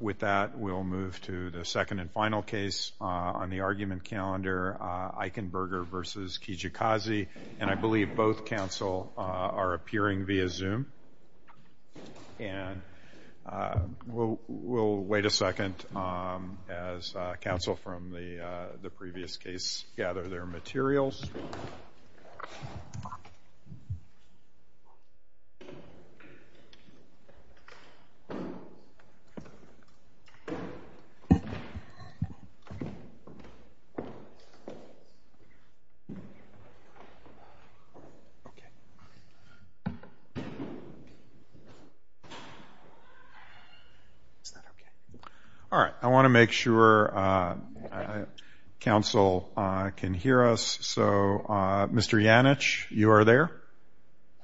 With that, we'll move to the second and final case on the argument calendar, Eichenberger v. Kijakazi. And I believe both counsel are appearing via Zoom. And we'll wait a second as counsel from the previous case gather their materials. All right, I want to make sure counsel can hear us. So, Mr. Janich, you are there?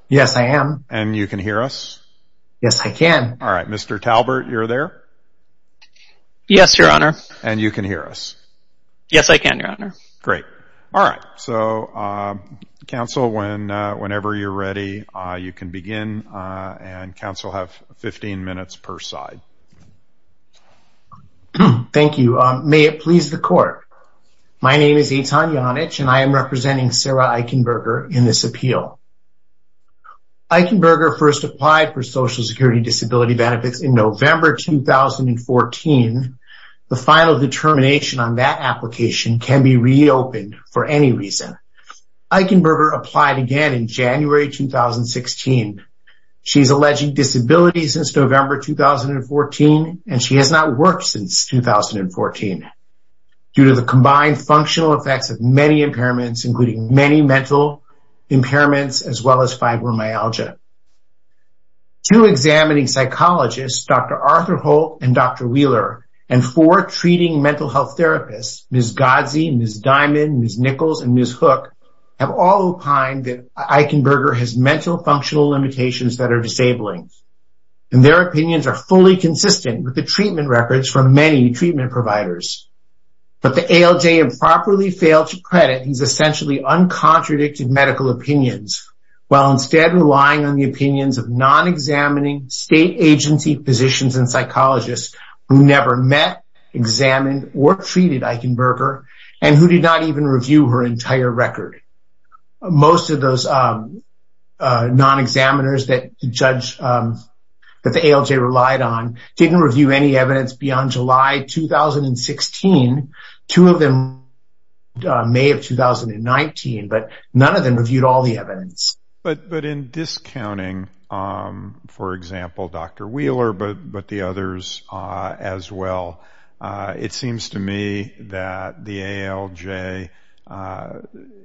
Yes, I am. And you can hear us? Yes, I can. All right, Mr. Talbert, you're there? Yes, Your Honor. And you can hear us? Yes, I can, Your Honor. Great, all right. So, counsel, whenever you're ready, you can begin. And counsel have 15 minutes per side. Thank you. May it please the court. My name is Eitan Janich, and I am representing Sarah Eichenberger in this appeal. Eichenberger first applied for Social Security Disability Benefits in November, 2014. The final determination on that application can be reopened for any reason. Eichenberger applied again in January, 2016. She's alleged disability since November, 2014, and she has not worked since 2014 due to the combined functional effects of many impairments, including many mental impairments, as well as fibromyalgia. Two examining psychologists, Dr. Arthur Holt and Dr. Wheeler and four treating mental health therapists, Ms. Godsey, Ms. Diamond, Ms. Nichols, and Ms. Hook, have all opined that Eichenberger has mental functional limitations that are disabling, and their opinions are fully consistent with the treatment records from many treatment providers. But the ALJ improperly failed to credit these essentially uncontradicted medical opinions, while instead relying on the opinions of non-examining state agency physicians and psychologists who never met, examined, or treated Eichenberger, and who did not even review her entire record. Most of those non-examiners that the ALJ relied on didn't review any evidence beyond July, 2016. Two of them reviewed May of 2019, but none of them reviewed all the evidence. But in discounting, for example, Dr. Wheeler, but the others as well, it seems to me that the ALJ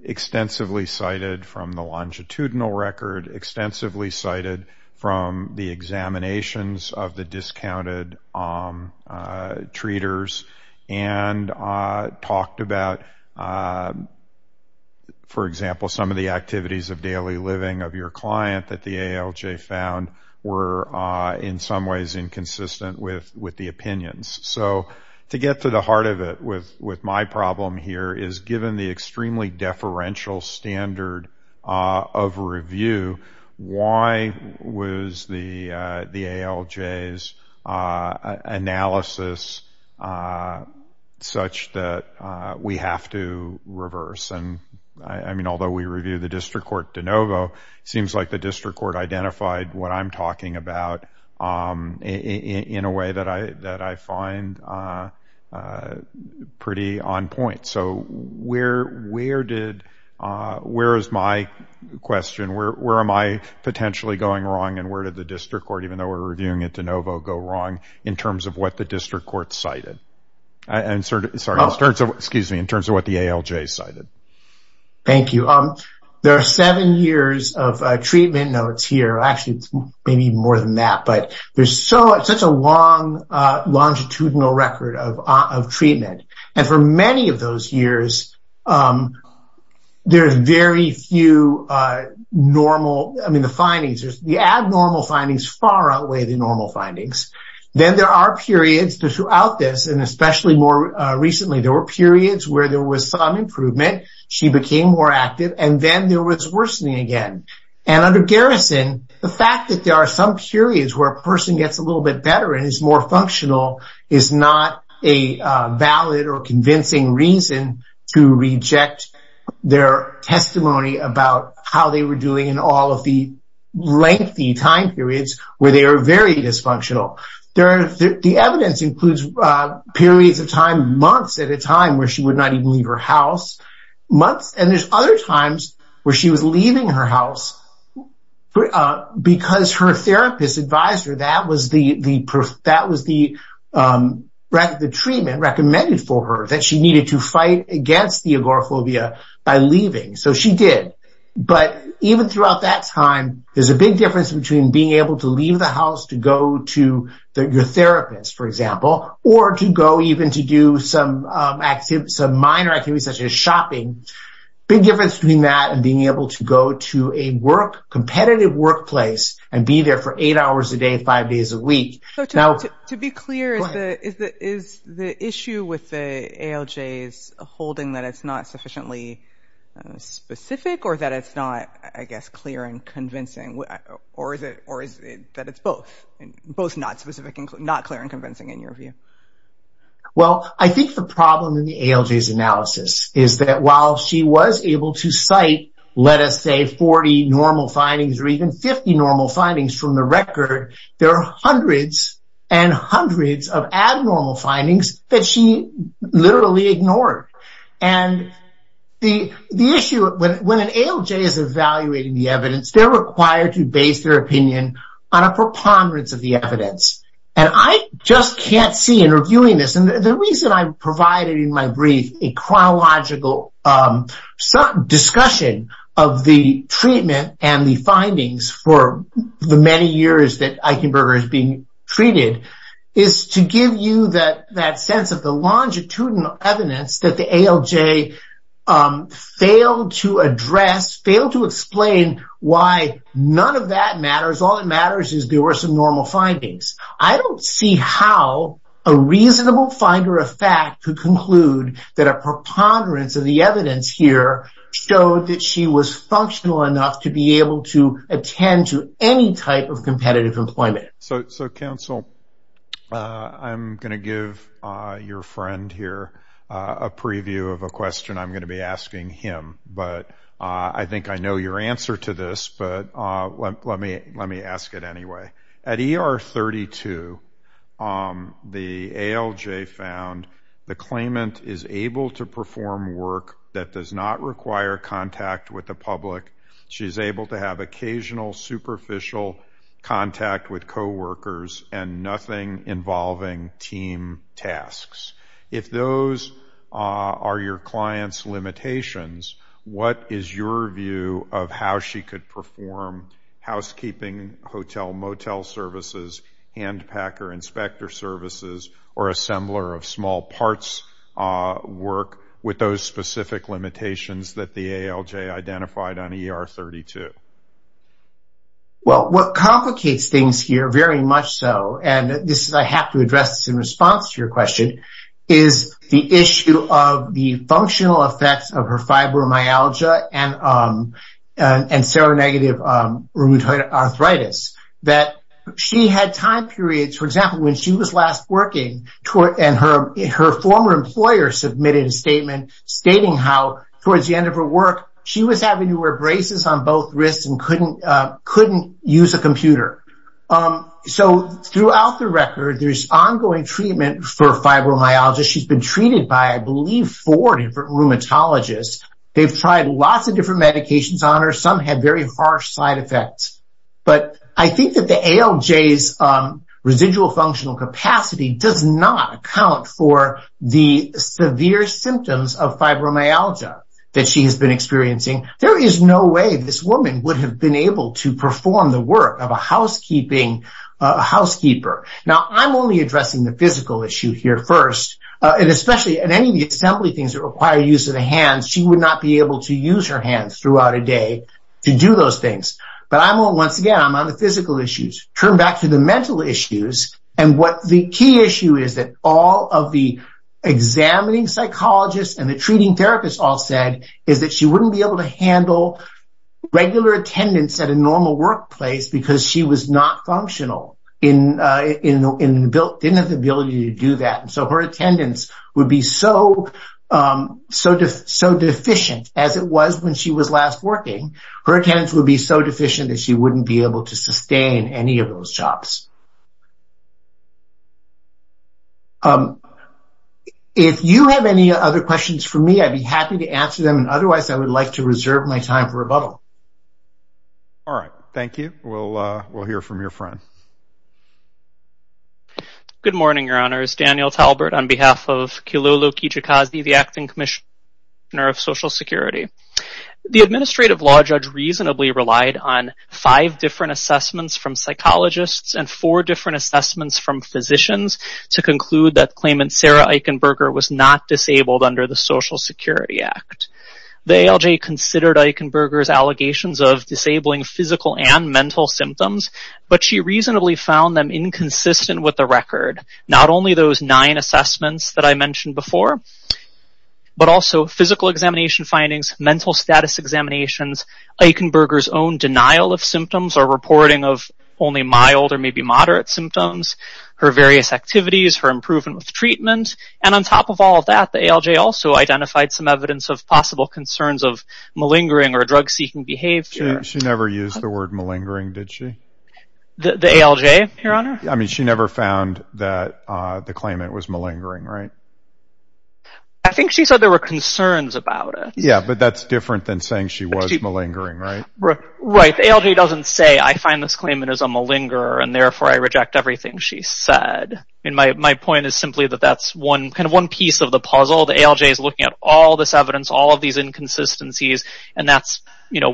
extensively cited from the longitudinal record, extensively cited from the examinations of the discounted treaters, and talked about, for example, some of the activities of daily living of your client that the ALJ found were in some ways inconsistent with the opinions. So to get to the heart of it with my problem here is given the extremely deferential standard of review, why was the ALJ's analysis such that we have to reverse? I mean, although we reviewed the district court de novo, seems like the district court identified what I'm talking about in a way that I find pretty on point. So where is my question? Where am I potentially going wrong, and where did the district court, even though we're reviewing it de novo, go wrong in terms of what the district court cited? I'm sorry, in terms of what the ALJ cited. Thank you. There are seven years of treatment notes here. Actually, it's maybe more than that, but there's such a long longitudinal record of treatment. And for many of those years, there's very few normal, I mean, the findings, the abnormal findings far outweigh the normal findings. Then there are periods throughout this, and especially more recently, there were periods where there was some improvement, she became more active, and then there was worsening again. And under Garrison, the fact that there are some periods where a person gets a little bit better and is more functional is not a valid or convincing reason to reject their testimony about how they were doing in all of the lengthy time periods where they are very dysfunctional. The evidence includes periods of time, months at a time where she would not even leave her house, months, and there's other times where she was leaving her house because her therapist advised her, that was the treatment recommended for her, that she needed to fight against the agoraphobia by leaving. So she did. But even throughout that time, there's a big difference between being able to leave the house to go to your therapist, for example, or to go even to do some minor activities such as shopping, big difference between that and being able to go to a competitive workplace and be there for eight hours a day, five days a week. To be clear, is the issue with the ALJs holding that it's not sufficiently specific or that it's not, I guess, clear and convincing or is it that it's both, both not specific and not clear and convincing in your view? Well, I think the problem in the ALJs analysis is that while she was able to cite, let us say 40 normal findings or even 50 normal findings from the record, there are hundreds and hundreds of abnormal findings that she literally ignored. And the issue, when an ALJ is evaluating the evidence, they're required to base their opinion on a preponderance of the evidence. And I just can't see in reviewing this, and the reason I provided in my brief a chronological discussion of the treatment and the findings for the many years that Eichenberger is being treated is to give you that sense of the longitudinal evidence that the ALJ failed to address, failed to explain why none of that matters. All that matters is there were some normal findings. I don't see how a reasonable finder of fact could conclude that a preponderance of the evidence here showed that she was functional enough to be able to attend to any type of competitive employment. So, counsel, I'm gonna give your friend here a preview of a question I'm gonna be asking him, but I think I know your answer to this, but let me ask it anyway. At ER 32, the ALJ found the claimant is able to perform work that does not require contact with the public. She's able to have occasional superficial contact with coworkers and nothing involving team tasks. If those are your client's limitations, what is your view of how she could perform housekeeping, hotel, motel services, hand packer, inspector services, or assembler of small parts work with those specific limitations that the ALJ identified on ER 32? Well, what complicates things here, very much so, and this is, I have to address this in response to your question, is the issue of the functional effects of her fibromyalgia and seronegative rheumatoid arthritis, that she had time periods, for example, when she was last working, and her former employer submitted a statement stating how towards the end of her work, she was having to wear braces on both wrists and couldn't use a computer. So throughout the record, there's ongoing treatment for fibromyalgia. She's been treated by, I believe, four different rheumatologists. They've tried lots of different medications on her. Some had very harsh side effects. But I think that the ALJ's residual functional capacity does not account for the severe symptoms of fibromyalgia that she has been experiencing. There is no way this woman would have been able to perform the work of a housekeeper. Now, I'm only addressing the physical issue here first, and especially in any of the assembly things that require use of the hands, she would not be able to use her hands throughout a day to do those things. But once again, I'm on the physical issues. Turn back to the mental issues, and what the key issue is that all of the examining psychologists and the treating therapists all said is that she wouldn't be able to handle regular attendance at a normal workplace because she was not functional, didn't have the ability to do that. And so her attendance would be so deficient as it was when she was last working, her attendance would be so deficient that she wouldn't be able to sustain any of those jobs. If you have any other questions for me, I'd be happy to answer them. And otherwise, I would like to reserve my time for rebuttal. All right, thank you. We'll hear from your friend. Good morning, Your Honors. Daniel Talbert on behalf of Kilolo Kijikazi, the Acting Commissioner of Social Security. The administrative law judge reasonably relied on five different assessments from psychologists and four different assessments from physicians to conclude that claimant Sarah Eichenberger was not disabled under the Social Security Act. The ALJ considered Eichenberger's allegations of disabling physical and mental symptoms, but she reasonably found them inconsistent with the record. Not only those nine assessments that I mentioned before, but also physical examination findings, mental status examinations, Eichenberger's own denial of symptoms or reporting of only mild or maybe moderate symptoms, her various activities, her improvement with treatment. And on top of all of that, the ALJ also identified some evidence of possible concerns of malingering or drug-seeking behavior. She never used the word malingering, did she? The ALJ, Your Honor? I mean, she never found that the claimant was malingering, right? I think she said there were concerns about it. Yeah, but that's different than saying she was malingering, right? Right, the ALJ doesn't say, I find this claimant is a malingerer and therefore I reject everything she said. And my point is simply that that's one, kind of one piece of the puzzle. The ALJ is looking at all this evidence, all of these inconsistencies, and that's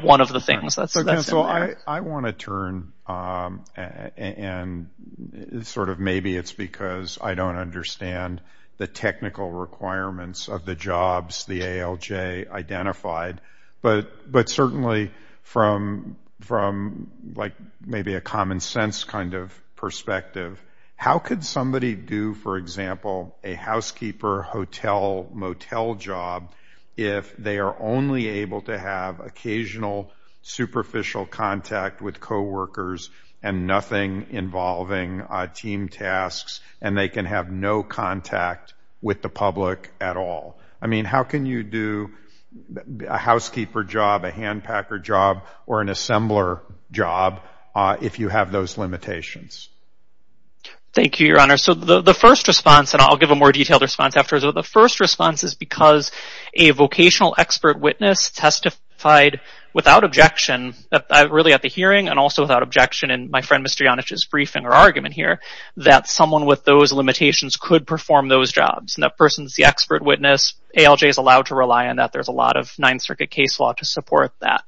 one of the things that's in there. I want to turn, and sort of maybe it's because I don't understand the technical requirements of the jobs the ALJ identified, but certainly from like maybe a common sense kind of perspective, how could somebody do, for example, a housekeeper, hotel, motel job if they are only able to have occasional superficial contact with coworkers and nothing involving team tasks and they can have no contact with the public at all? I mean, how can you do a housekeeper job, a hand packer job, or an assembler job if you have those limitations? Thank you, Your Honor. So the first response, and I'll give a more detailed response after, so the first response is because a vocational expert witness testified without objection, really at the hearing and also without objection in my friend Mr. Janic's briefing or argument here, that someone with those limitations could perform those jobs. And that person's the expert witness. ALJ is allowed to rely on that. There's a lot of Ninth Circuit case law to support that.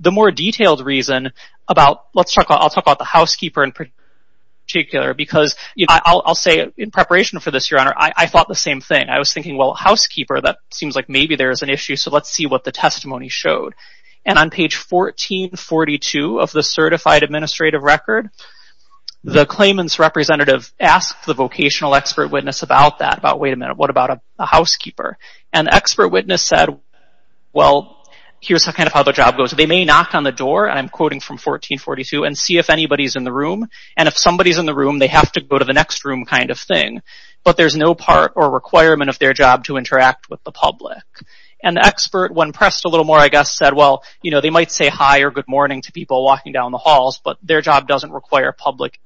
The more detailed reason about, let's talk, I'll talk about the housekeeper in particular because I'll say in preparation for this, Your Honor, I thought the same thing. I was thinking, well, housekeeper, that seems like maybe there is an issue, so let's see what the testimony showed. And on page 1442 of the certified administrative record, the claimant's representative asked the vocational expert witness about that, about wait a minute, what about a housekeeper? And the expert witness said, well, here's how kind of how the job goes. They may knock on the door, and I'm quoting from 1442, and see if anybody's in the room. And if somebody's in the room, they have to go to the next room kind of thing. But there's no part or requirement of their job to interact with the public. And the expert, when pressed a little more, I guess said, well, you know, they might say hi or good morning to people walking down the halls, but their job doesn't require public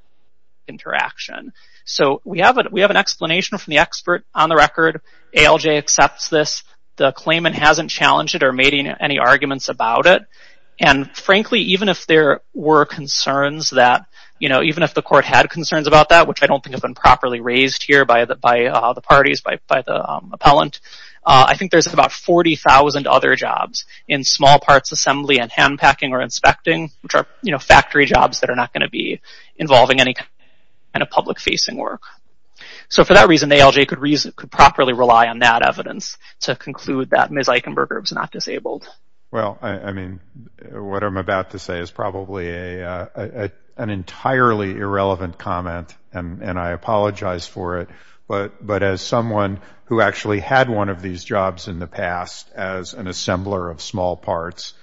interaction. So we have an explanation from the expert on the record. ALJ accepts this. The claimant hasn't challenged it or made any arguments about it. And frankly, even if there were concerns that, you know, even if the court had concerns about that, which I don't think have been properly raised here by the parties, by the appellant, I think there's about 40,000 other jobs in small parts assembly and hand packing or inspecting, which are, you know, factory jobs that are not going to be involving any kind of public facing work. So for that reason, the ALJ could properly rely on that evidence to conclude that Ms. Eichenberger was not disabled. Well, I mean, what I'm about to say is probably an entirely irrelevant comment, and I apologize for it. But as someone who actually had one of these jobs in the past as an assembler of small parts,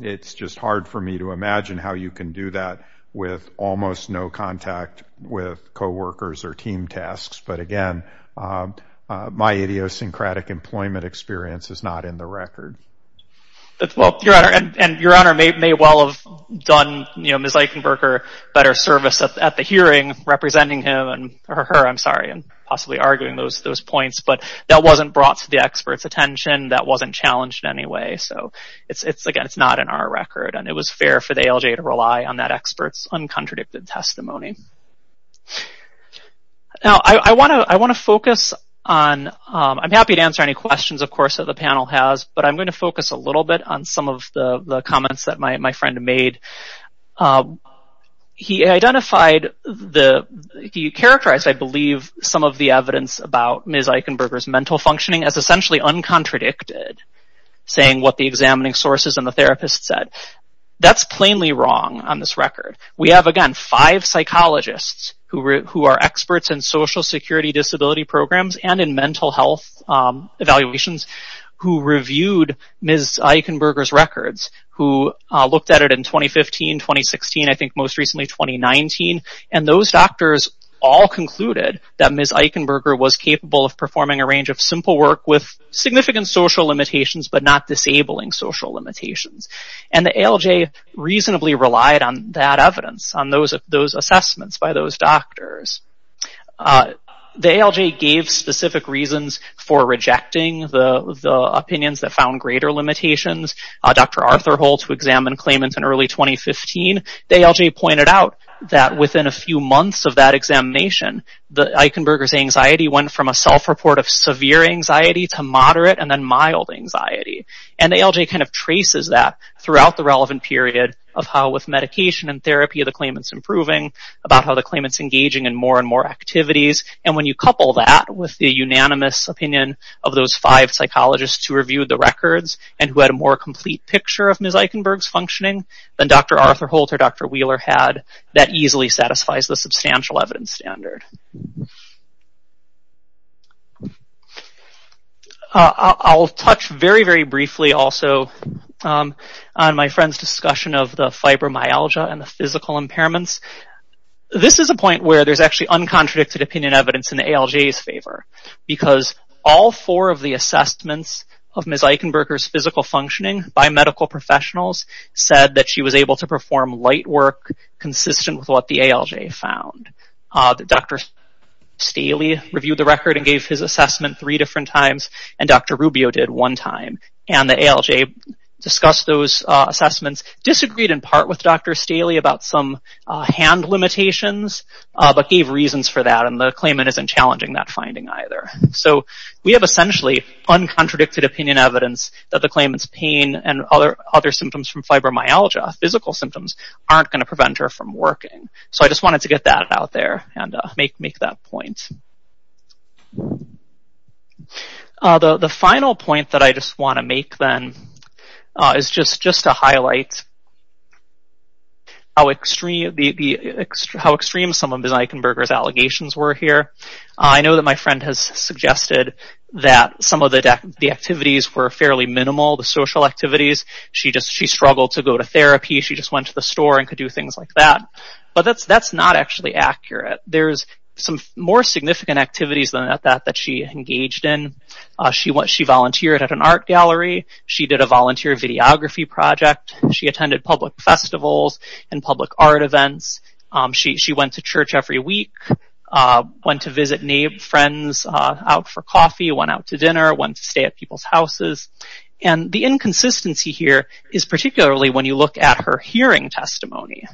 it's just hard for me to imagine how you can do that with almost no contact with coworkers or team tasks. But again, my idiosyncratic employment experience is not in the record. Well, Your Honor, and Your Honor may well have done, you know, Ms. Eichenberger better service at the hearing representing him or her, I'm sorry, and possibly arguing those points, but that wasn't brought to the expert's attention. That wasn't challenged in any way. So it's, again, it's not in our record, and it was fair for the ALJ to rely on that expert's uncontradicted testimony. Now, I want to focus on, I'm happy to answer any questions, of course, that the panel has, but I'm going to focus a little bit on some of the comments that my friend made. He identified the, he characterized, I believe, some of the evidence about Ms. Eichenberger's mental functioning as essentially uncontradicted, saying what the examining sources and the therapist said. That's plainly wrong on this record. We have, again, five psychologists who are experts in social security disability programs and in mental health evaluations who reviewed Ms. Eichenberger's records, who looked at it in 2015, 2016, I think most recently 2019, and those doctors all concluded that Ms. Eichenberger was capable of performing a range of simple work with significant social limitations, but not disabling social limitations. And the ALJ reasonably relied on that evidence, on those assessments by those doctors. The ALJ gave specific reasons for rejecting the opinions that found greater limitations. Dr. Arthur Holtz, who examined claimants in early 2015, the ALJ pointed out that within a few months of that examination, Eichenberger's anxiety went from a self-report of severe anxiety to moderate and then mild anxiety. And the ALJ kind of traces that throughout the relevant period of how, with medication and therapy, the claimant's improving, about how the claimant's engaging in more and more activities. And when you couple that with the unanimous opinion of those five psychologists who reviewed the records and who had a more complete picture of Ms. Eichenberger's functioning than Dr. Arthur Holtz or Dr. Wheeler had, that easily satisfies the substantial evidence standard. I'll touch very, very briefly also on my friend's discussion of the fibromyalgia and the physical impairments. This is a point where there's actually uncontradicted opinion evidence in the ALJ's favor, because all four of the assessments of Ms. Eichenberger's physical functioning by medical professionals said that she was able to perform light work consistent with what the ALJ found. Dr. Staley reviewed the record and gave his assessment three different times, and Dr. Rubio did one time. And the ALJ discussed those assessments, disagreed in part with Dr. Staley about some hand limitations, but gave reasons for that, and the claimant isn't challenging that finding either. So we have essentially uncontradicted opinion evidence that the claimant's pain and other symptoms from fibromyalgia, physical symptoms, aren't gonna prevent her from working. So I just wanted to get that out there and make that point. The final point that I just wanna make then is just to highlight how extreme some of Ms. Eichenberger's allegations were here. I know that my friend has suggested that some of the activities were fairly minimal, the social activities. She struggled to go to therapy. She just went to the store and could do things like that. But that's not actually accurate. There's some more significant activities than that that she engaged in. She volunteered at an art gallery. She did a volunteer videography project. She attended public festivals and public art events. She went to church every week, went to visit friends out for coffee, went out to dinner, went to stay at people's houses. And the inconsistency here is particularly when you look at her hearing testimony.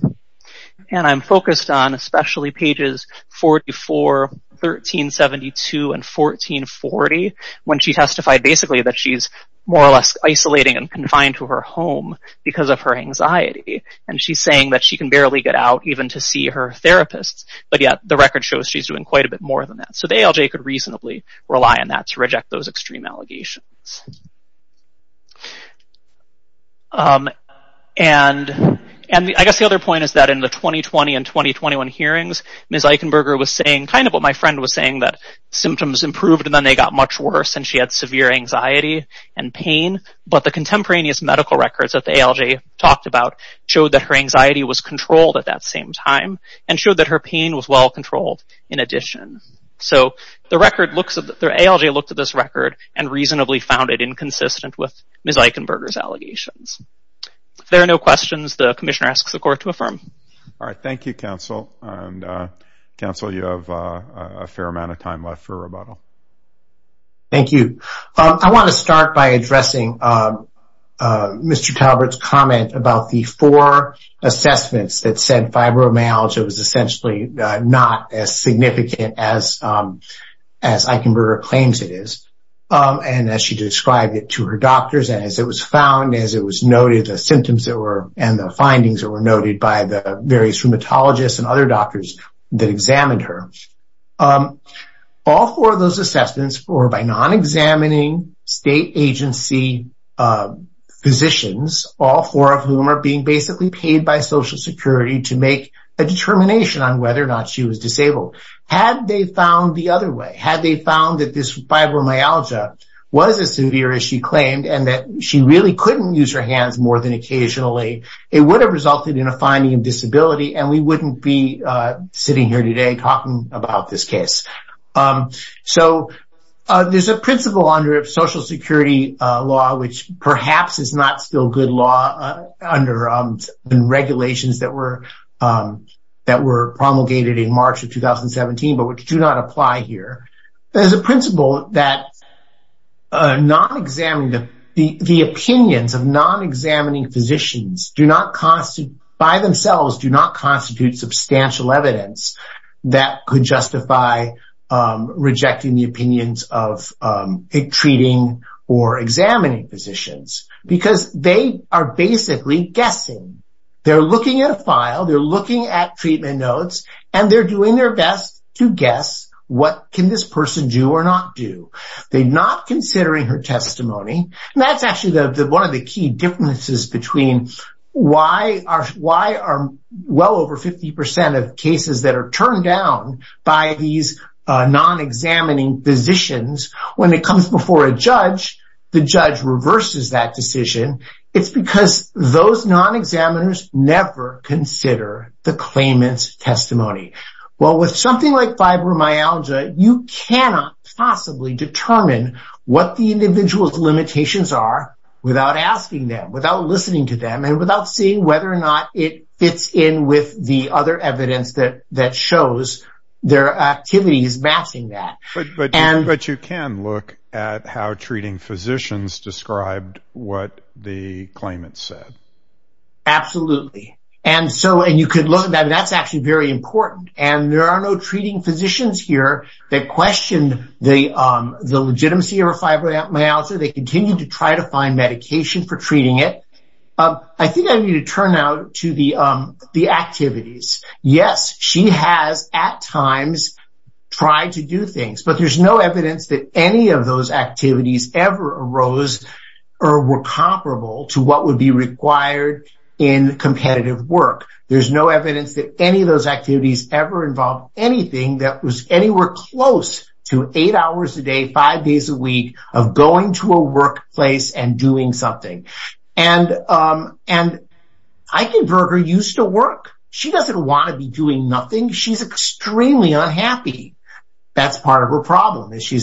And I'm focused on especially pages 44, 1372, and 1440, when she testified basically that she's more or less isolating and confined to her home because of her anxiety. And she's saying that she can barely get out even to see her therapists, but yet the record shows she's doing quite a bit more than that. So the ALJ could reasonably rely on that to reject those extreme allegations. And I guess the other point is that in the 2020 and 2021 hearings, Ms. Eichenberger was saying kind of what my friend was saying that symptoms improved and then they got much worse and she had severe anxiety and pain. But the contemporaneous medical records that the ALJ talked about showed that her anxiety was controlled at that same time and showed that her pain was well controlled in addition. So the record looks, the ALJ looked at this record and reasonably found it inconsistent with Ms. Eichenberger's allegations. If there are no questions, the commissioner asks the court to affirm. All right, thank you, counsel. And counsel, you have a fair amount of time left for rebuttal. Thank you. I want to start by addressing Mr. Talbert's comment about the four assessments that said fibromyalgia was essentially not as significant as Eichenberger claims it is. And as she described it to her doctors and as it was found, as it was noted, the symptoms that were and the findings that were noted by the various rheumatologists and other doctors that examined her. All four of those assessments were by non-examining state agency physicians, all four of whom are being basically paid by Social Security to make a determination on whether or not she was disabled. Had they found the other way, had they found that this fibromyalgia was as severe as she claimed and that she really couldn't use her hands more than occasionally, it would have resulted in a finding of disability and we wouldn't be sitting here today talking about this case. So there's a principle under Social Security law, which perhaps is not still good law under regulations that were promulgated in March of 2017, but which do not apply here. There's a principle that the opinions of non-examining physicians by themselves do not constitute substantial evidence that could justify rejecting the opinions of treating or examining physicians because they are basically guessing. They're looking at a file, they're looking at treatment notes and they're doing their best to guess what can this person do or not do. They're not considering her testimony and that's actually one of the key differences between why are well over 50% of cases that are turned down by these non-examining physicians when it comes before a judge, the judge reverses that decision. It's because those non-examiners never consider the claimant's testimony. Well, with something like fibromyalgia, you cannot possibly determine what the individual's limitations are without asking them, without listening to them and without seeing whether or not it fits in with the other evidence that shows their activities matching that. But you can look at how treating physicians described what the claimant said. Absolutely and you could look at that and that's actually very important and there are no treating physicians here that questioned the legitimacy of fibromyalgia. They continue to try to find medication for treating it. I think I need to turn now to the activities. Yes, she has at times tried to do things but there's no evidence that any of those activities ever arose or were comparable to what would be required in competitive work. There's no evidence that any of those activities ever involved anything that was anywhere close to eight hours a day, five days a week of going to a workplace and doing something. And Eichenberger used to work. She doesn't want to be doing nothing. She's extremely unhappy. That's part of her problem is she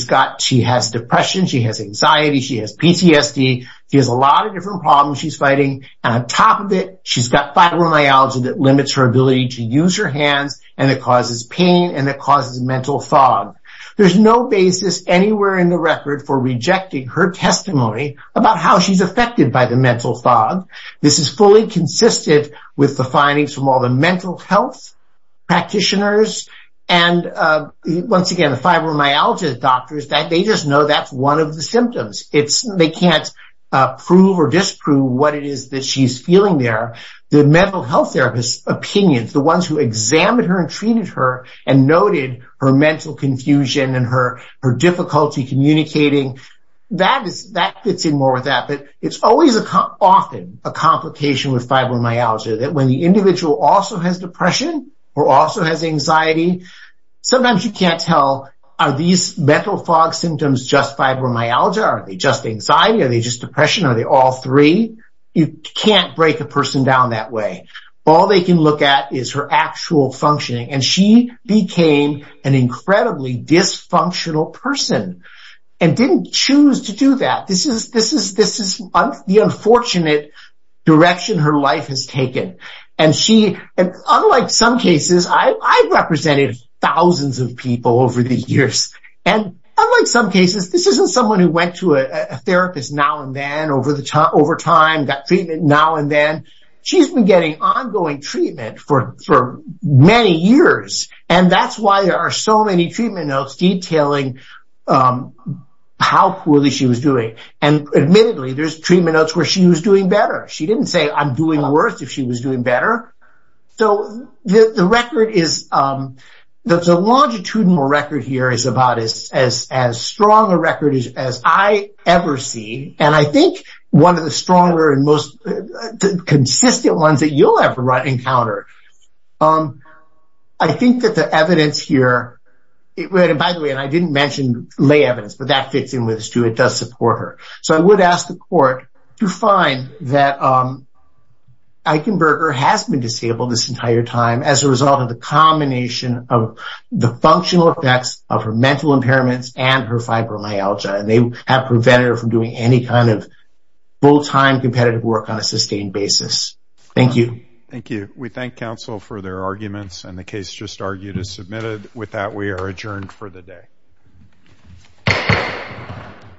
has depression, she has anxiety, she has PTSD. She has a lot of different problems she's fighting and on top of it, she's got fibromyalgia that limits her ability to use her hands and it causes pain and it causes mental fog. There's no basis anywhere in the record for rejecting her testimony about how she's affected by the mental fog. This is fully consistent with the findings from all the mental health practitioners and once again, the fibromyalgia doctors, they just know that's one of the symptoms. They can't prove or disprove what it is that she's feeling there. The mental health therapist opinions, the ones who examined her and treated her and noted her mental confusion and her difficulty communicating, that fits in more with that but it's always often a complication with fibromyalgia that when the individual also has depression or also has anxiety, sometimes you can't tell are these mental fog symptoms just fibromyalgia? Are they just anxiety? Are they just depression? Are they all three? You can't break a person down that way. All they can look at is her actual functioning and she became an incredibly dysfunctional person and didn't choose to do that. This is the unfortunate direction her life has taken and unlike some cases, I've represented thousands of people over the years and unlike some cases, this isn't someone who went to a therapist now and then over time, got treatment now and then. She's been getting ongoing treatment for many years and that's why there are so many treatment notes detailing how poorly she was doing and admittedly, there's treatment notes where she was doing better. She didn't say I'm doing worse if she was doing better. So the longitudinal record here is about as strong a record as I ever see and I think one of the stronger and most consistent ones that you'll ever encounter. I think that the evidence here, and by the way, I didn't mention lay evidence but that fits in with this too. It does support her. So I would ask the court to find that Eichenberger has been disabled this entire time as a result of the combination of the functional effects of her mental impairments and her fibromyalgia and they have prevented her from doing any kind of full-time competitive work on a sustained basis. Thank you. We thank counsel for their arguments and the case just argued is submitted with that, we are adjourned for the day. Thank you.